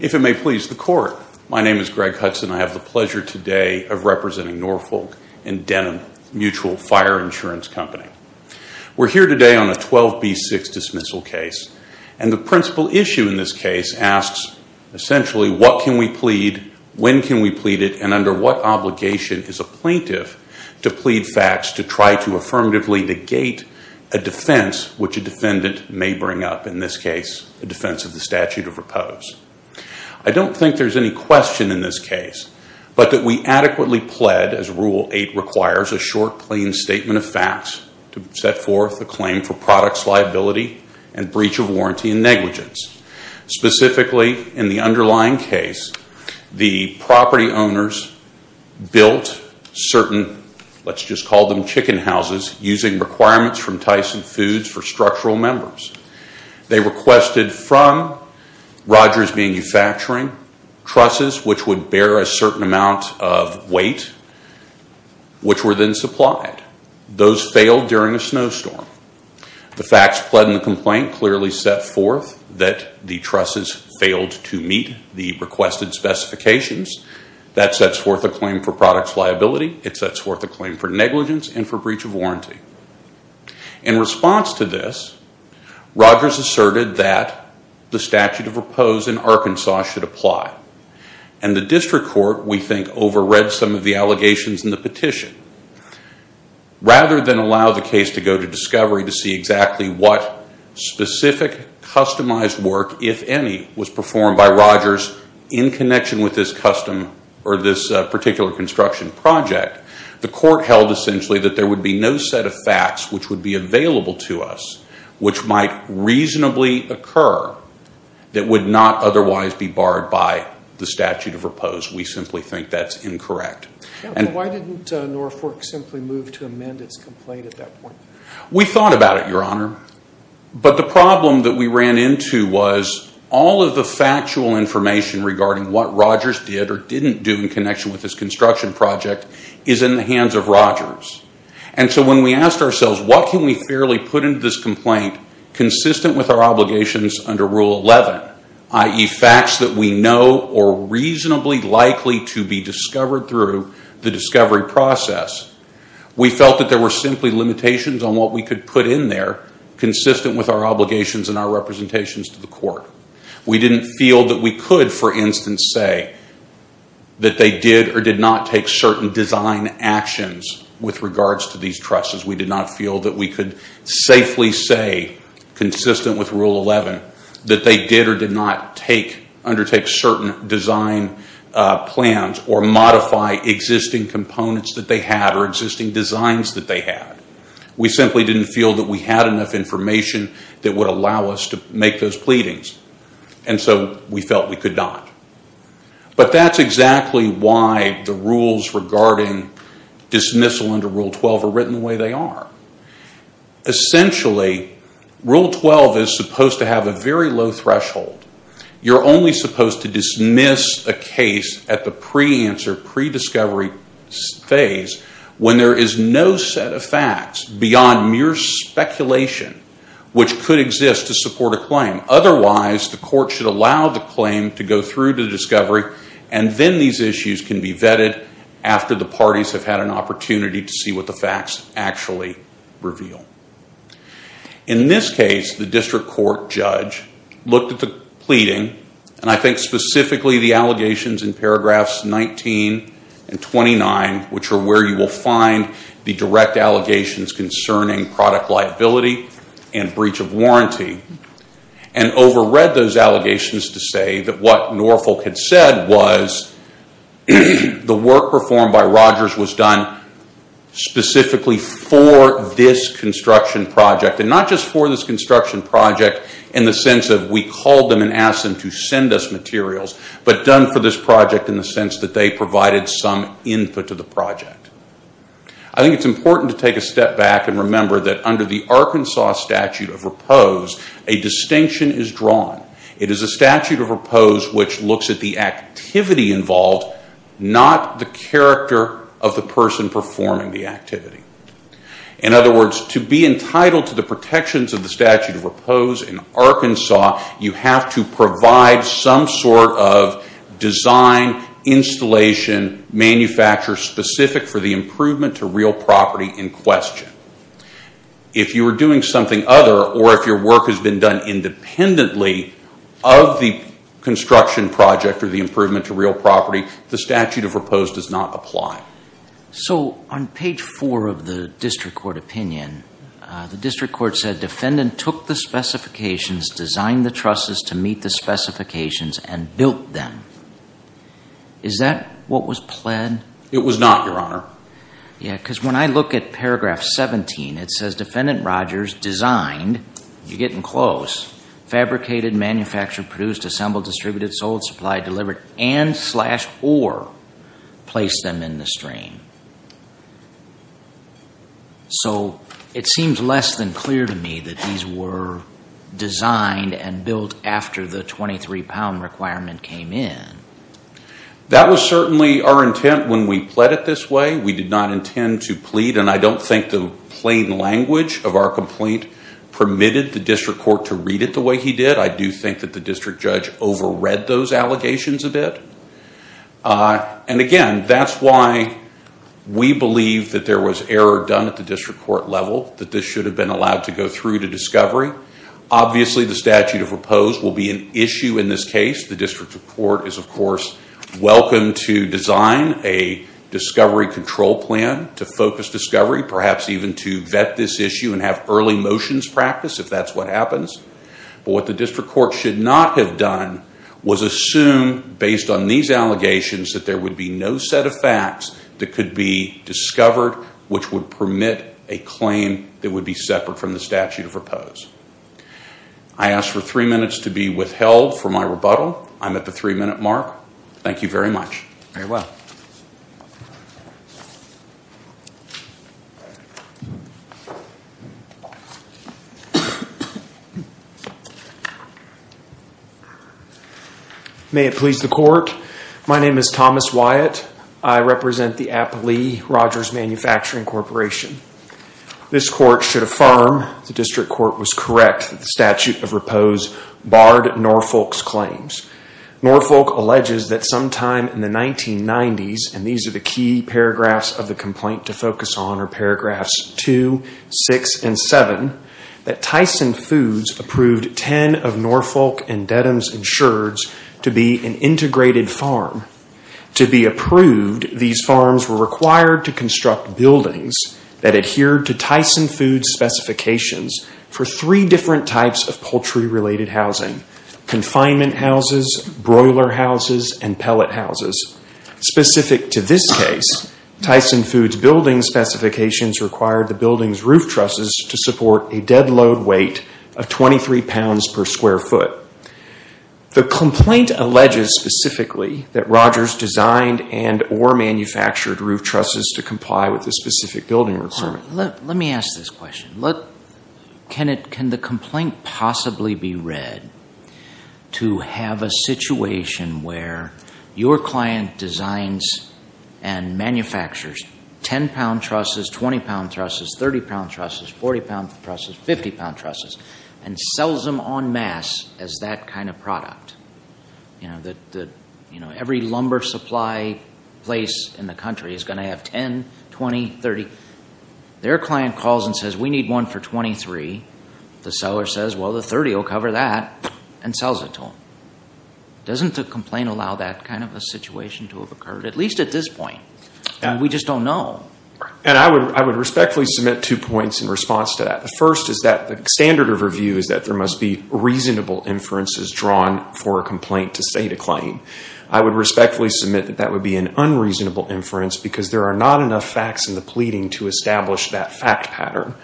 If it may please the court, my name is Greg Hudson. I have the pleasure today of representing Norfolk & Dedham Mutual Fire Insurance Company. We're here today on a 12B6 dismissal case, and the principal issue in this case asks, essentially, what can we plead, when can we plead it, and under what obligation is a plaintiff to plead facts to try to affirmatively negate a defense which a defendant may bring up, in this case, a defense of the statute of repose? I don't think there's any question in this case, but that we adequately pled, as Rule 8 requires, a short, plain statement of facts to set forth a claim for products liability and breach of warranty and negligence. Specifically, in the underlying case, the property owners built certain, let's just call them chicken houses, using requirements from Tyson Foods for structural members. They requested from Rogers Manufacturing, trusses which would bear a certain amount of weight, which were then supplied. Those failed during a snowstorm. The facts pled in the complaint clearly set forth that the trusses failed to meet the requested specifications. That sets forth a claim for products liability. It sets forth a claim for negligence and for breach of warranty. In response to this, Rogers asserted that the statute of repose in Arkansas should apply. The district court, we think, over-read some of the allegations in the petition. Rather than allow the case to go to discovery to see exactly what specific, customized work, if any, was performed by Rogers in connection with this particular construction project, the court held, essentially, that there would be no set of facts which would be available to us, which might reasonably occur, that would not otherwise be barred by the statute of repose. We simply think that's incorrect. Why didn't Norfolk simply move to amend its complaint at that point? We thought about it, Your Honor. The problem that we ran into was all of the factual information regarding what Rogers did or didn't do in connection with this construction project is in the hands of Rogers. When we asked ourselves, what can we fairly put into this complaint consistent with our obligations under Rule 11, i.e., facts that we know are reasonably likely to be discovered through the discovery process, we felt that there were simply limitations on what we could put in there consistent with our obligations and our representations to the court. We didn't feel that we could, for instance, say that they did or did not take certain design actions with regards to these trusses. We did not feel that we could safely say, consistent with Rule 11, that they did or did not undertake certain design plans or modify existing components that they had or existing designs that they had. We simply didn't feel that we had enough information that would allow us to make those pleadings, and so we felt we could not. But that's exactly why the rules regarding dismissal under Rule 12 are written the way they are. Essentially, Rule 12 is supposed to have a very low threshold. You're only supposed to dismiss a case at the pre-answer, pre-discovery phase when there is no set of facts beyond mere speculation which could exist to support a claim. Otherwise, the court should allow the claim to go through to discovery, and then these issues can be vetted after the parties have had an opportunity to see what the facts actually reveal. In this case, the district court judge looked at the pleading, and I think specifically the allegations in paragraphs 19 and 29, which are where you will find the direct allegations concerning product liability and breach of warranty, and overread those allegations to say that what Norfolk had said was the work performed by Rogers was done specifically for this construction project. And not just for this construction project in the sense that we called them and asked them to send us materials, but done for this project in the sense that they provided some input to the project. I think it's important to take a step back and remember that under the Arkansas statute of repose, a distinction is drawn. It is a statute of repose which looks at the activity involved, not the character of the person performing the activity. In other words, to be entitled to the protections of the statute of repose in Arkansas, you have to provide some sort of design, installation, manufacture specific for the improvement to real property in question. If you were doing something other, or if your work has been done independently of the construction project or the improvement to real property, the statute of repose does not apply. So on page four of the district court opinion, the district court said defendant took the specifications, designed the trusses to meet the specifications, and built them. Is that what was pled? It was not, Your Honor. Yeah, because when I look at paragraph 17, it says defendant Rogers designed, you're getting close, fabricated, manufactured, produced, assembled, distributed, sold, supplied, delivered, and slash or placed them in the stream. So it seems less than clear to me that these were designed and built after the 23 pound requirement came in. That was certainly our intent when we pled it this way. We did not intend to plead, and I don't think the plain language of our complaint permitted the district court to read it the way he did. I do think that the district judge overread those allegations a bit. And again, that's why we believe that there was error done at the district court level, that this should have been allowed to go through to discovery. Obviously, the statute of repose will be an issue in this case. The district court is, of course, welcome to design a discovery control plan to focus discovery, perhaps even to vet this issue and have early motions practice if that's what happens. But what the district court should not have done was assume, based on these allegations, that there would be no set of facts that could be discovered, which would permit a claim that would be separate from the statute of repose. I ask for three minutes to be withheld for my rebuttal. I'm at the three-minute mark. Thank you very much. Very well. May it please the court. My name is Thomas Wyatt. I represent the Applee Rogers Manufacturing Corporation. This court should affirm the district court was correct that the statute of repose barred Norfolk's claims. Norfolk alleges that sometime in the 1990s, and these are the key paragraphs of the complaint to focus on are paragraphs 2, 6, and 7, that Tyson Foods approved ten of Norfolk and Dedham's insurers to be an integrated farm. To be approved, these farms were required to construct buildings that adhered to Tyson Foods' specifications for three different types of poultry-related housing, confinement houses, broiler houses, and pellet houses. Specific to this case, Tyson Foods' building specifications required the building's roof trusses to support a dead load weight of 23 pounds per square foot. The complaint alleges specifically that Rogers designed and or manufactured roof trusses to comply with the specific building requirement. Let me ask this question. Can the complaint possibly be read to have a situation where your client designs and manufactures 10-pound trusses, 20-pound trusses, 30-pound trusses, 40-pound trusses, 50-pound trusses, and sells them en masse as that kind of product? Every lumber supply place in the country is going to have 10, 20, 30. Their client calls and says, we need one for 23. The seller says, well, the 30 will cover that, and sells it to them. Doesn't the complaint allow that kind of a situation to have occurred, at least at this point? We just don't know. I would respectfully submit two points in response to that. The first is that the standard of review is that there must be reasonable inferences drawn for a complaint to state a claim. I would respectfully submit that that would be an unreasonable inference because there are not enough facts in the pleading to establish that fact pattern.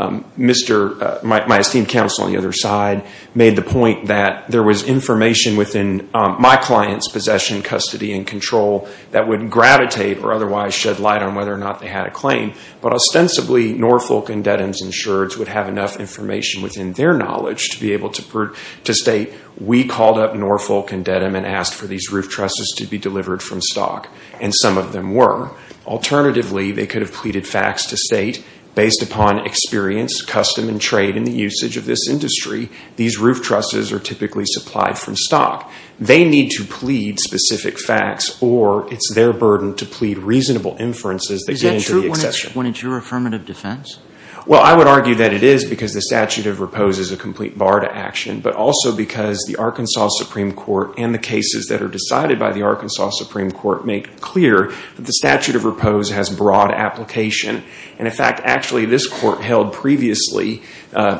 My esteemed counsel on the other side made the point that there was information within my client's possession, custody, and control that would gravitate or otherwise shed light on whether or not they had a claim. But ostensibly Norfolk and Dedham's insureds would have enough information within their knowledge to be able to state, we called up Norfolk and Dedham and asked for these roof trusses to be delivered from stock, and some of them were. Alternatively, they could have pleaded facts to state, based upon experience, custom, and trade in the usage of this industry, these roof trusses are typically supplied from stock. They need to plead specific facts or it's their burden to plead reasonable inferences that get into the exception. Is that true when it's your affirmative defense? Well, I would argue that it is because the statute of repose is a complete bar to action, but also because the Arkansas Supreme Court and the cases that are decided by the Arkansas Supreme Court make clear that the statute of repose has broad application. And, in fact, actually this court held previously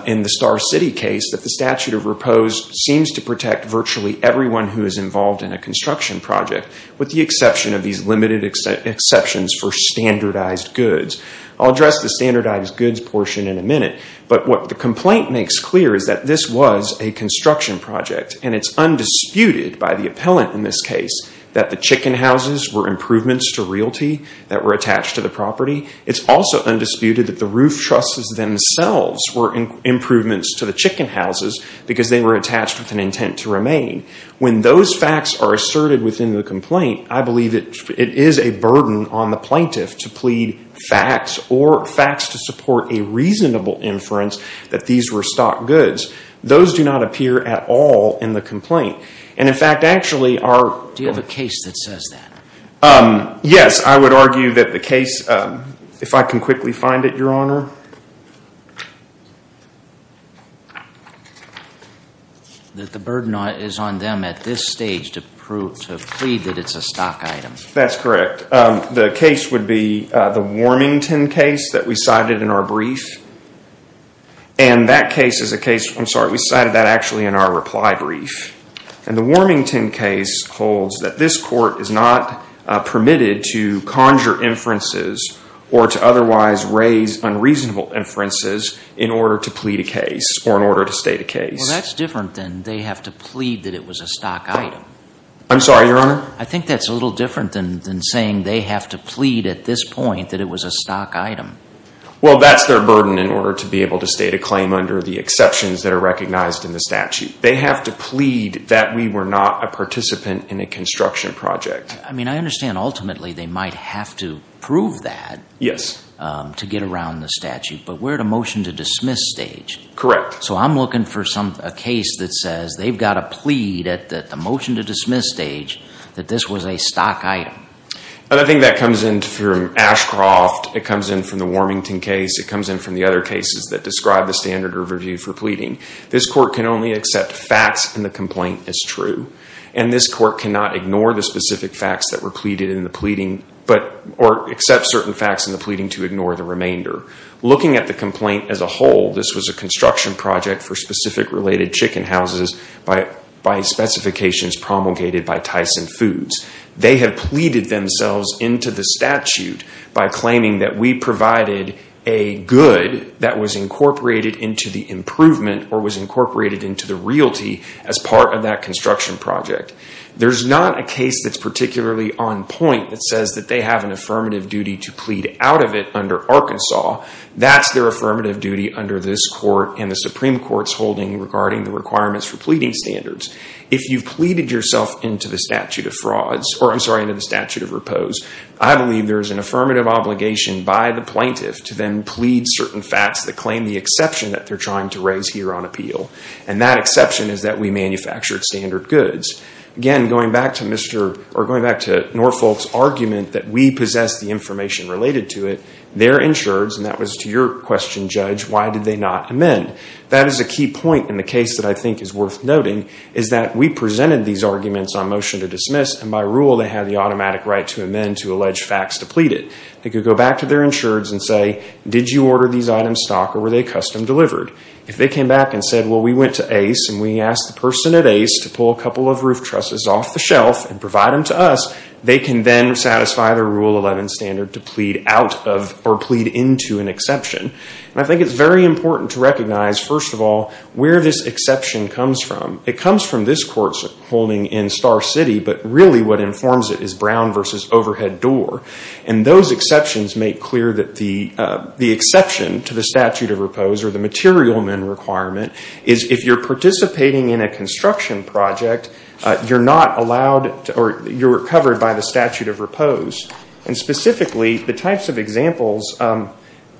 in the Star City case that the statute of repose seems to protect virtually everyone who is involved in a construction project, with the exception of these limited exceptions for standardized goods. I'll address the standardized goods portion in a minute, but what the complaint makes clear is that this was a construction project, and it's undisputed by the appellant in this case that the chicken houses were improvements to realty that were attached to the property. It's also undisputed that the roof trusses themselves were improvements to the chicken houses because they were attached with an intent to remain. When those facts are asserted within the complaint, I believe it is a burden on the plaintiff to plead facts or facts to support a reasonable inference that these were stock goods. Those do not appear at all in the complaint. And, in fact, actually our- Do you have a case that says that? Yes, I would argue that the case- If I can quickly find it, Your Honor. That the burden is on them at this stage to plead that it's a stock item. That's correct. The case would be the Warmington case that we cited in our brief. And that case is a case- I'm sorry, we cited that actually in our reply brief. And the Warmington case holds that this court is not permitted to conjure inferences or to otherwise raise unreasonable inferences in order to plead a case or in order to state a case. Well, that's different than they have to plead that it was a stock item. I'm sorry, Your Honor? I think that's a little different than saying they have to plead at this point that it was a stock item. Well, that's their burden in order to be able to state a claim under the exceptions that are recognized in the statute. They have to plead that we were not a participant in a construction project. I mean, I understand ultimately they might have to prove that to get around the statute. But we're at a motion-to-dismiss stage. Correct. So I'm looking for a case that says they've got to plead at the motion-to-dismiss stage that this was a stock item. I think that comes in from Ashcroft. It comes in from the Warmington case. It comes in from the other cases that describe the standard of review for pleading. This court can only accept facts and the complaint is true. And this court cannot ignore the specific facts that were pleaded in the pleading or accept certain facts in the pleading to ignore the remainder. Looking at the complaint as a whole, this was a construction project for specific related chicken houses by specifications promulgated by Tyson Foods. They have pleaded themselves into the statute by claiming that we provided a good that was incorporated into the improvement or was incorporated into the realty as part of that construction project. There's not a case that's particularly on point that says that they have an affirmative duty to plead out of it under Arkansas. That's their affirmative duty under this court and the Supreme Court's holding regarding the requirements for pleading standards. If you've pleaded yourself into the statute of repose, I believe there's an affirmative obligation by the plaintiff to then plead certain facts that claim the exception that they're trying to raise here on appeal. And that exception is that we manufactured standard goods. Again, going back to Norfolk's argument that we possess the information related to it, their insureds, and that was to your question, Judge, why did they not amend? That is a key point in the case that I think is worth noting, is that we presented these arguments on motion to dismiss, and by rule they have the automatic right to amend to allege facts depleted. They could go back to their insureds and say, did you order these items stocked or were they custom delivered? If they came back and said, well, we went to Ace and we asked the person at Ace to pull a couple of roof trusses off the shelf and provide them to us, they can then satisfy their Rule 11 standard to plead into an exception. I think it's very important to recognize, first of all, where this exception comes from. It comes from this court's holding in Star City, but really what informs it is Brown v. Overhead Door. And those exceptions make clear that the exception to the statute of repose or the material men requirement is if you're participating in a construction project, you're not allowed or you're covered by the statute of repose. And specifically, the types of examples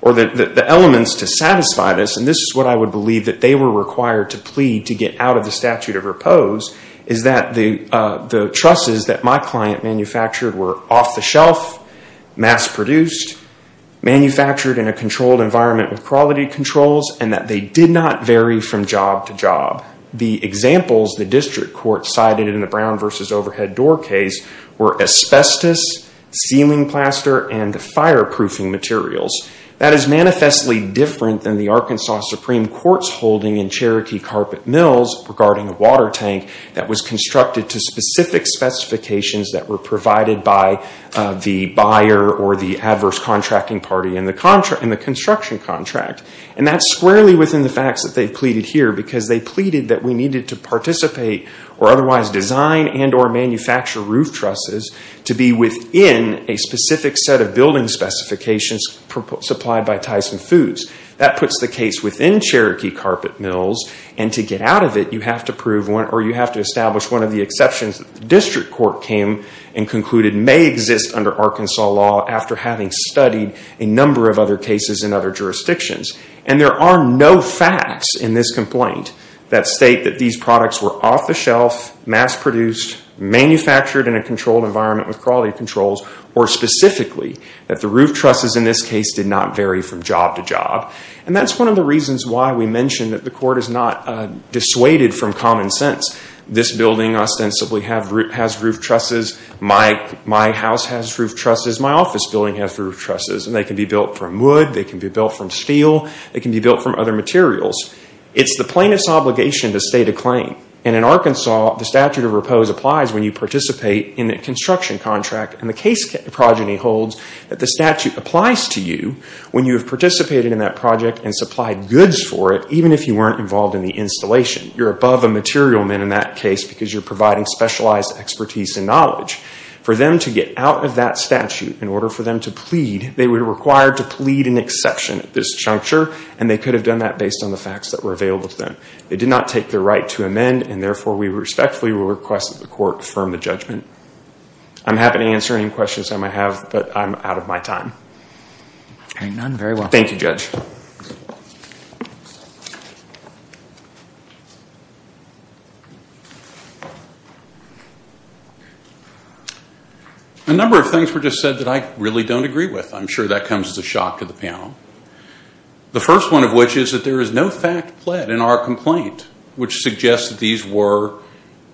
or the elements to satisfy this, and this is what I would believe that they were required to plead to get out of the statute of repose, is that the trusses that my client manufactured were off the shelf, mass produced, manufactured in a controlled environment with quality controls, and that they did not vary from job to job. The examples the district court cited in the Brown v. Overhead Door case were asbestos, ceiling plaster, and fireproofing materials. That is manifestly different than the Arkansas Supreme Court's holding in Cherokee Carpet Mills regarding a water tank that was constructed to specific specifications that were provided by the buyer or the adverse contracting party in the construction contract. And that's squarely within the facts that they've pleaded here because they pleaded that we needed to participate or otherwise design and or manufacture roof trusses to be within a specific set of building specifications supplied by Tyson Foods. That puts the case within Cherokee Carpet Mills, and to get out of it you have to prove or you have to establish one of the exceptions that the district court came and concluded may exist under Arkansas law after having studied a number of other cases in other jurisdictions. And there are no facts in this complaint that state that these products were off the shelf, mass produced, manufactured in a controlled environment with quality controls, or specifically that the roof trusses in this case did not vary from job to job. And that's one of the reasons why we mentioned that the court is not dissuaded from common sense. This building ostensibly has roof trusses. My house has roof trusses. My office building has roof trusses. And they can be built from wood. They can be built from steel. They can be built from other materials. It's the plaintiff's obligation to state a claim. And in Arkansas, the statute of repose applies when you participate in a construction contract. And the case progeny holds that the statute applies to you when you have participated in that project and supplied goods for it, even if you weren't involved in the installation. You're above a material man in that case because you're providing specialized expertise and knowledge. For them to get out of that statute in order for them to plead, they were required to plead an exception at this juncture, and they could have done that based on the facts that were available to them. They did not take their right to amend, and therefore we respectfully request that the court affirm the judgment. I'm happy to answer any questions I might have, but I'm out of my time. None? Very well. Thank you, Judge. A number of things were just said that I really don't agree with. I'm sure that comes as a shock to the panel. The first one of which is that there is no fact pled in our complaint, which suggests that these were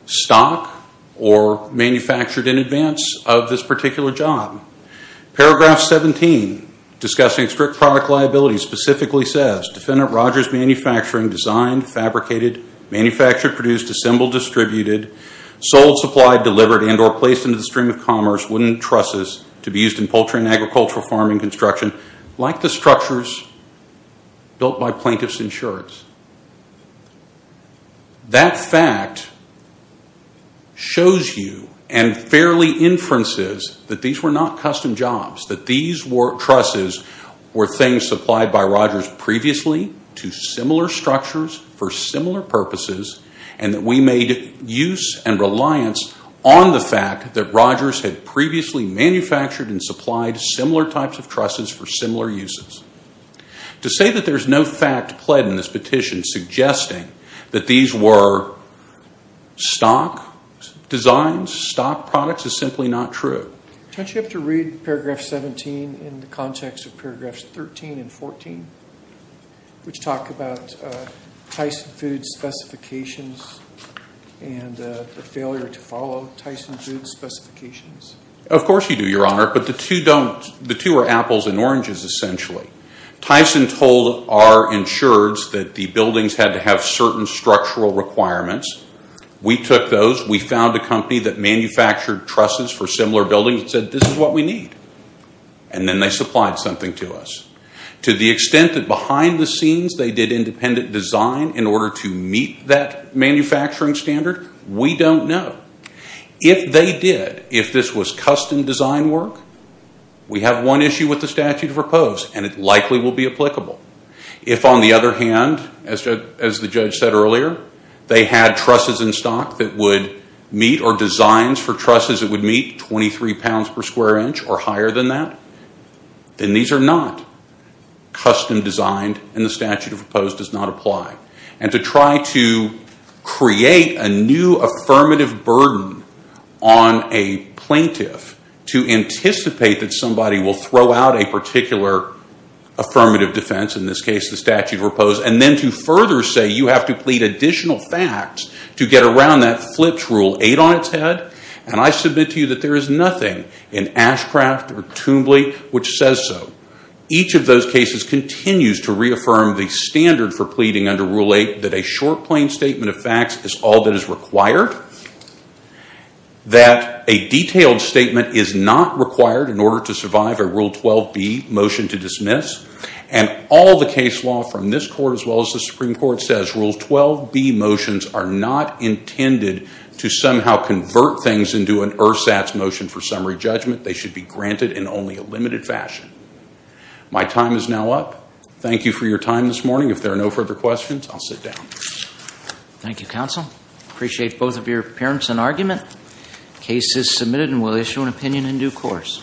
stock or manufactured in advance of this particular job. Paragraph 17, discussing strict product liability, specifically says, Defendant Rogers' manufacturing designed, fabricated, manufactured, produced, assembled, distributed, sold, supplied, delivered, and or placed into the stream of commerce wooden trusses to be used in poultry construction, like the structures built by Plaintiff's Insurance. That fact shows you and fairly inferences that these were not custom jobs, that these trusses were things supplied by Rogers previously to similar structures for similar purposes, and that we made use and reliance on the fact that Rogers had previously manufactured and supplied similar types of trusses for similar uses. To say that there's no fact pled in this petition suggesting that these were stock designs, stock products, is simply not true. Don't you have to read paragraph 17 in the context of paragraphs 13 and 14, which talk about Tyson Foods' specifications and the failure to follow Tyson Foods' specifications? Of course you do, Your Honor, but the two are apples and oranges, essentially. Tyson told our insurers that the buildings had to have certain structural requirements. We took those. We found a company that manufactured trusses for similar buildings and said, This is what we need. And then they supplied something to us. To the extent that behind the scenes they did independent design in order to meet that manufacturing standard, we don't know. If they did, if this was custom design work, we have one issue with the statute of repose, and it likely will be applicable. If, on the other hand, as the judge said earlier, they had trusses in stock that would meet or designs for trusses that would meet 23 pounds per square inch or higher than that, then these are not custom designed and the statute of repose does not apply. And to try to create a new affirmative burden on a plaintiff to anticipate that somebody will throw out a particular affirmative defense, in this case the statute of repose, and then to further say you have to plead additional facts to get around that flips Rule 8 on its head, and I submit to you that there is nothing in Ashcraft or Toombley which says so. Each of those cases continues to reaffirm the standard for pleading under Rule 8, that a short, plain statement of facts is all that is required, that a detailed statement is not required in order to survive a Rule 12b motion to dismiss, and all the case law from this court as well as the Supreme Court says, Rule 12b motions are not intended to somehow convert things into an ersatz motion for summary judgment. They should be granted in only a limited fashion. My time is now up. Thank you for your time this morning. If there are no further questions, I'll sit down. Thank you, counsel. Appreciate both of your appearance and argument. Case is submitted and we'll issue an opinion in due course.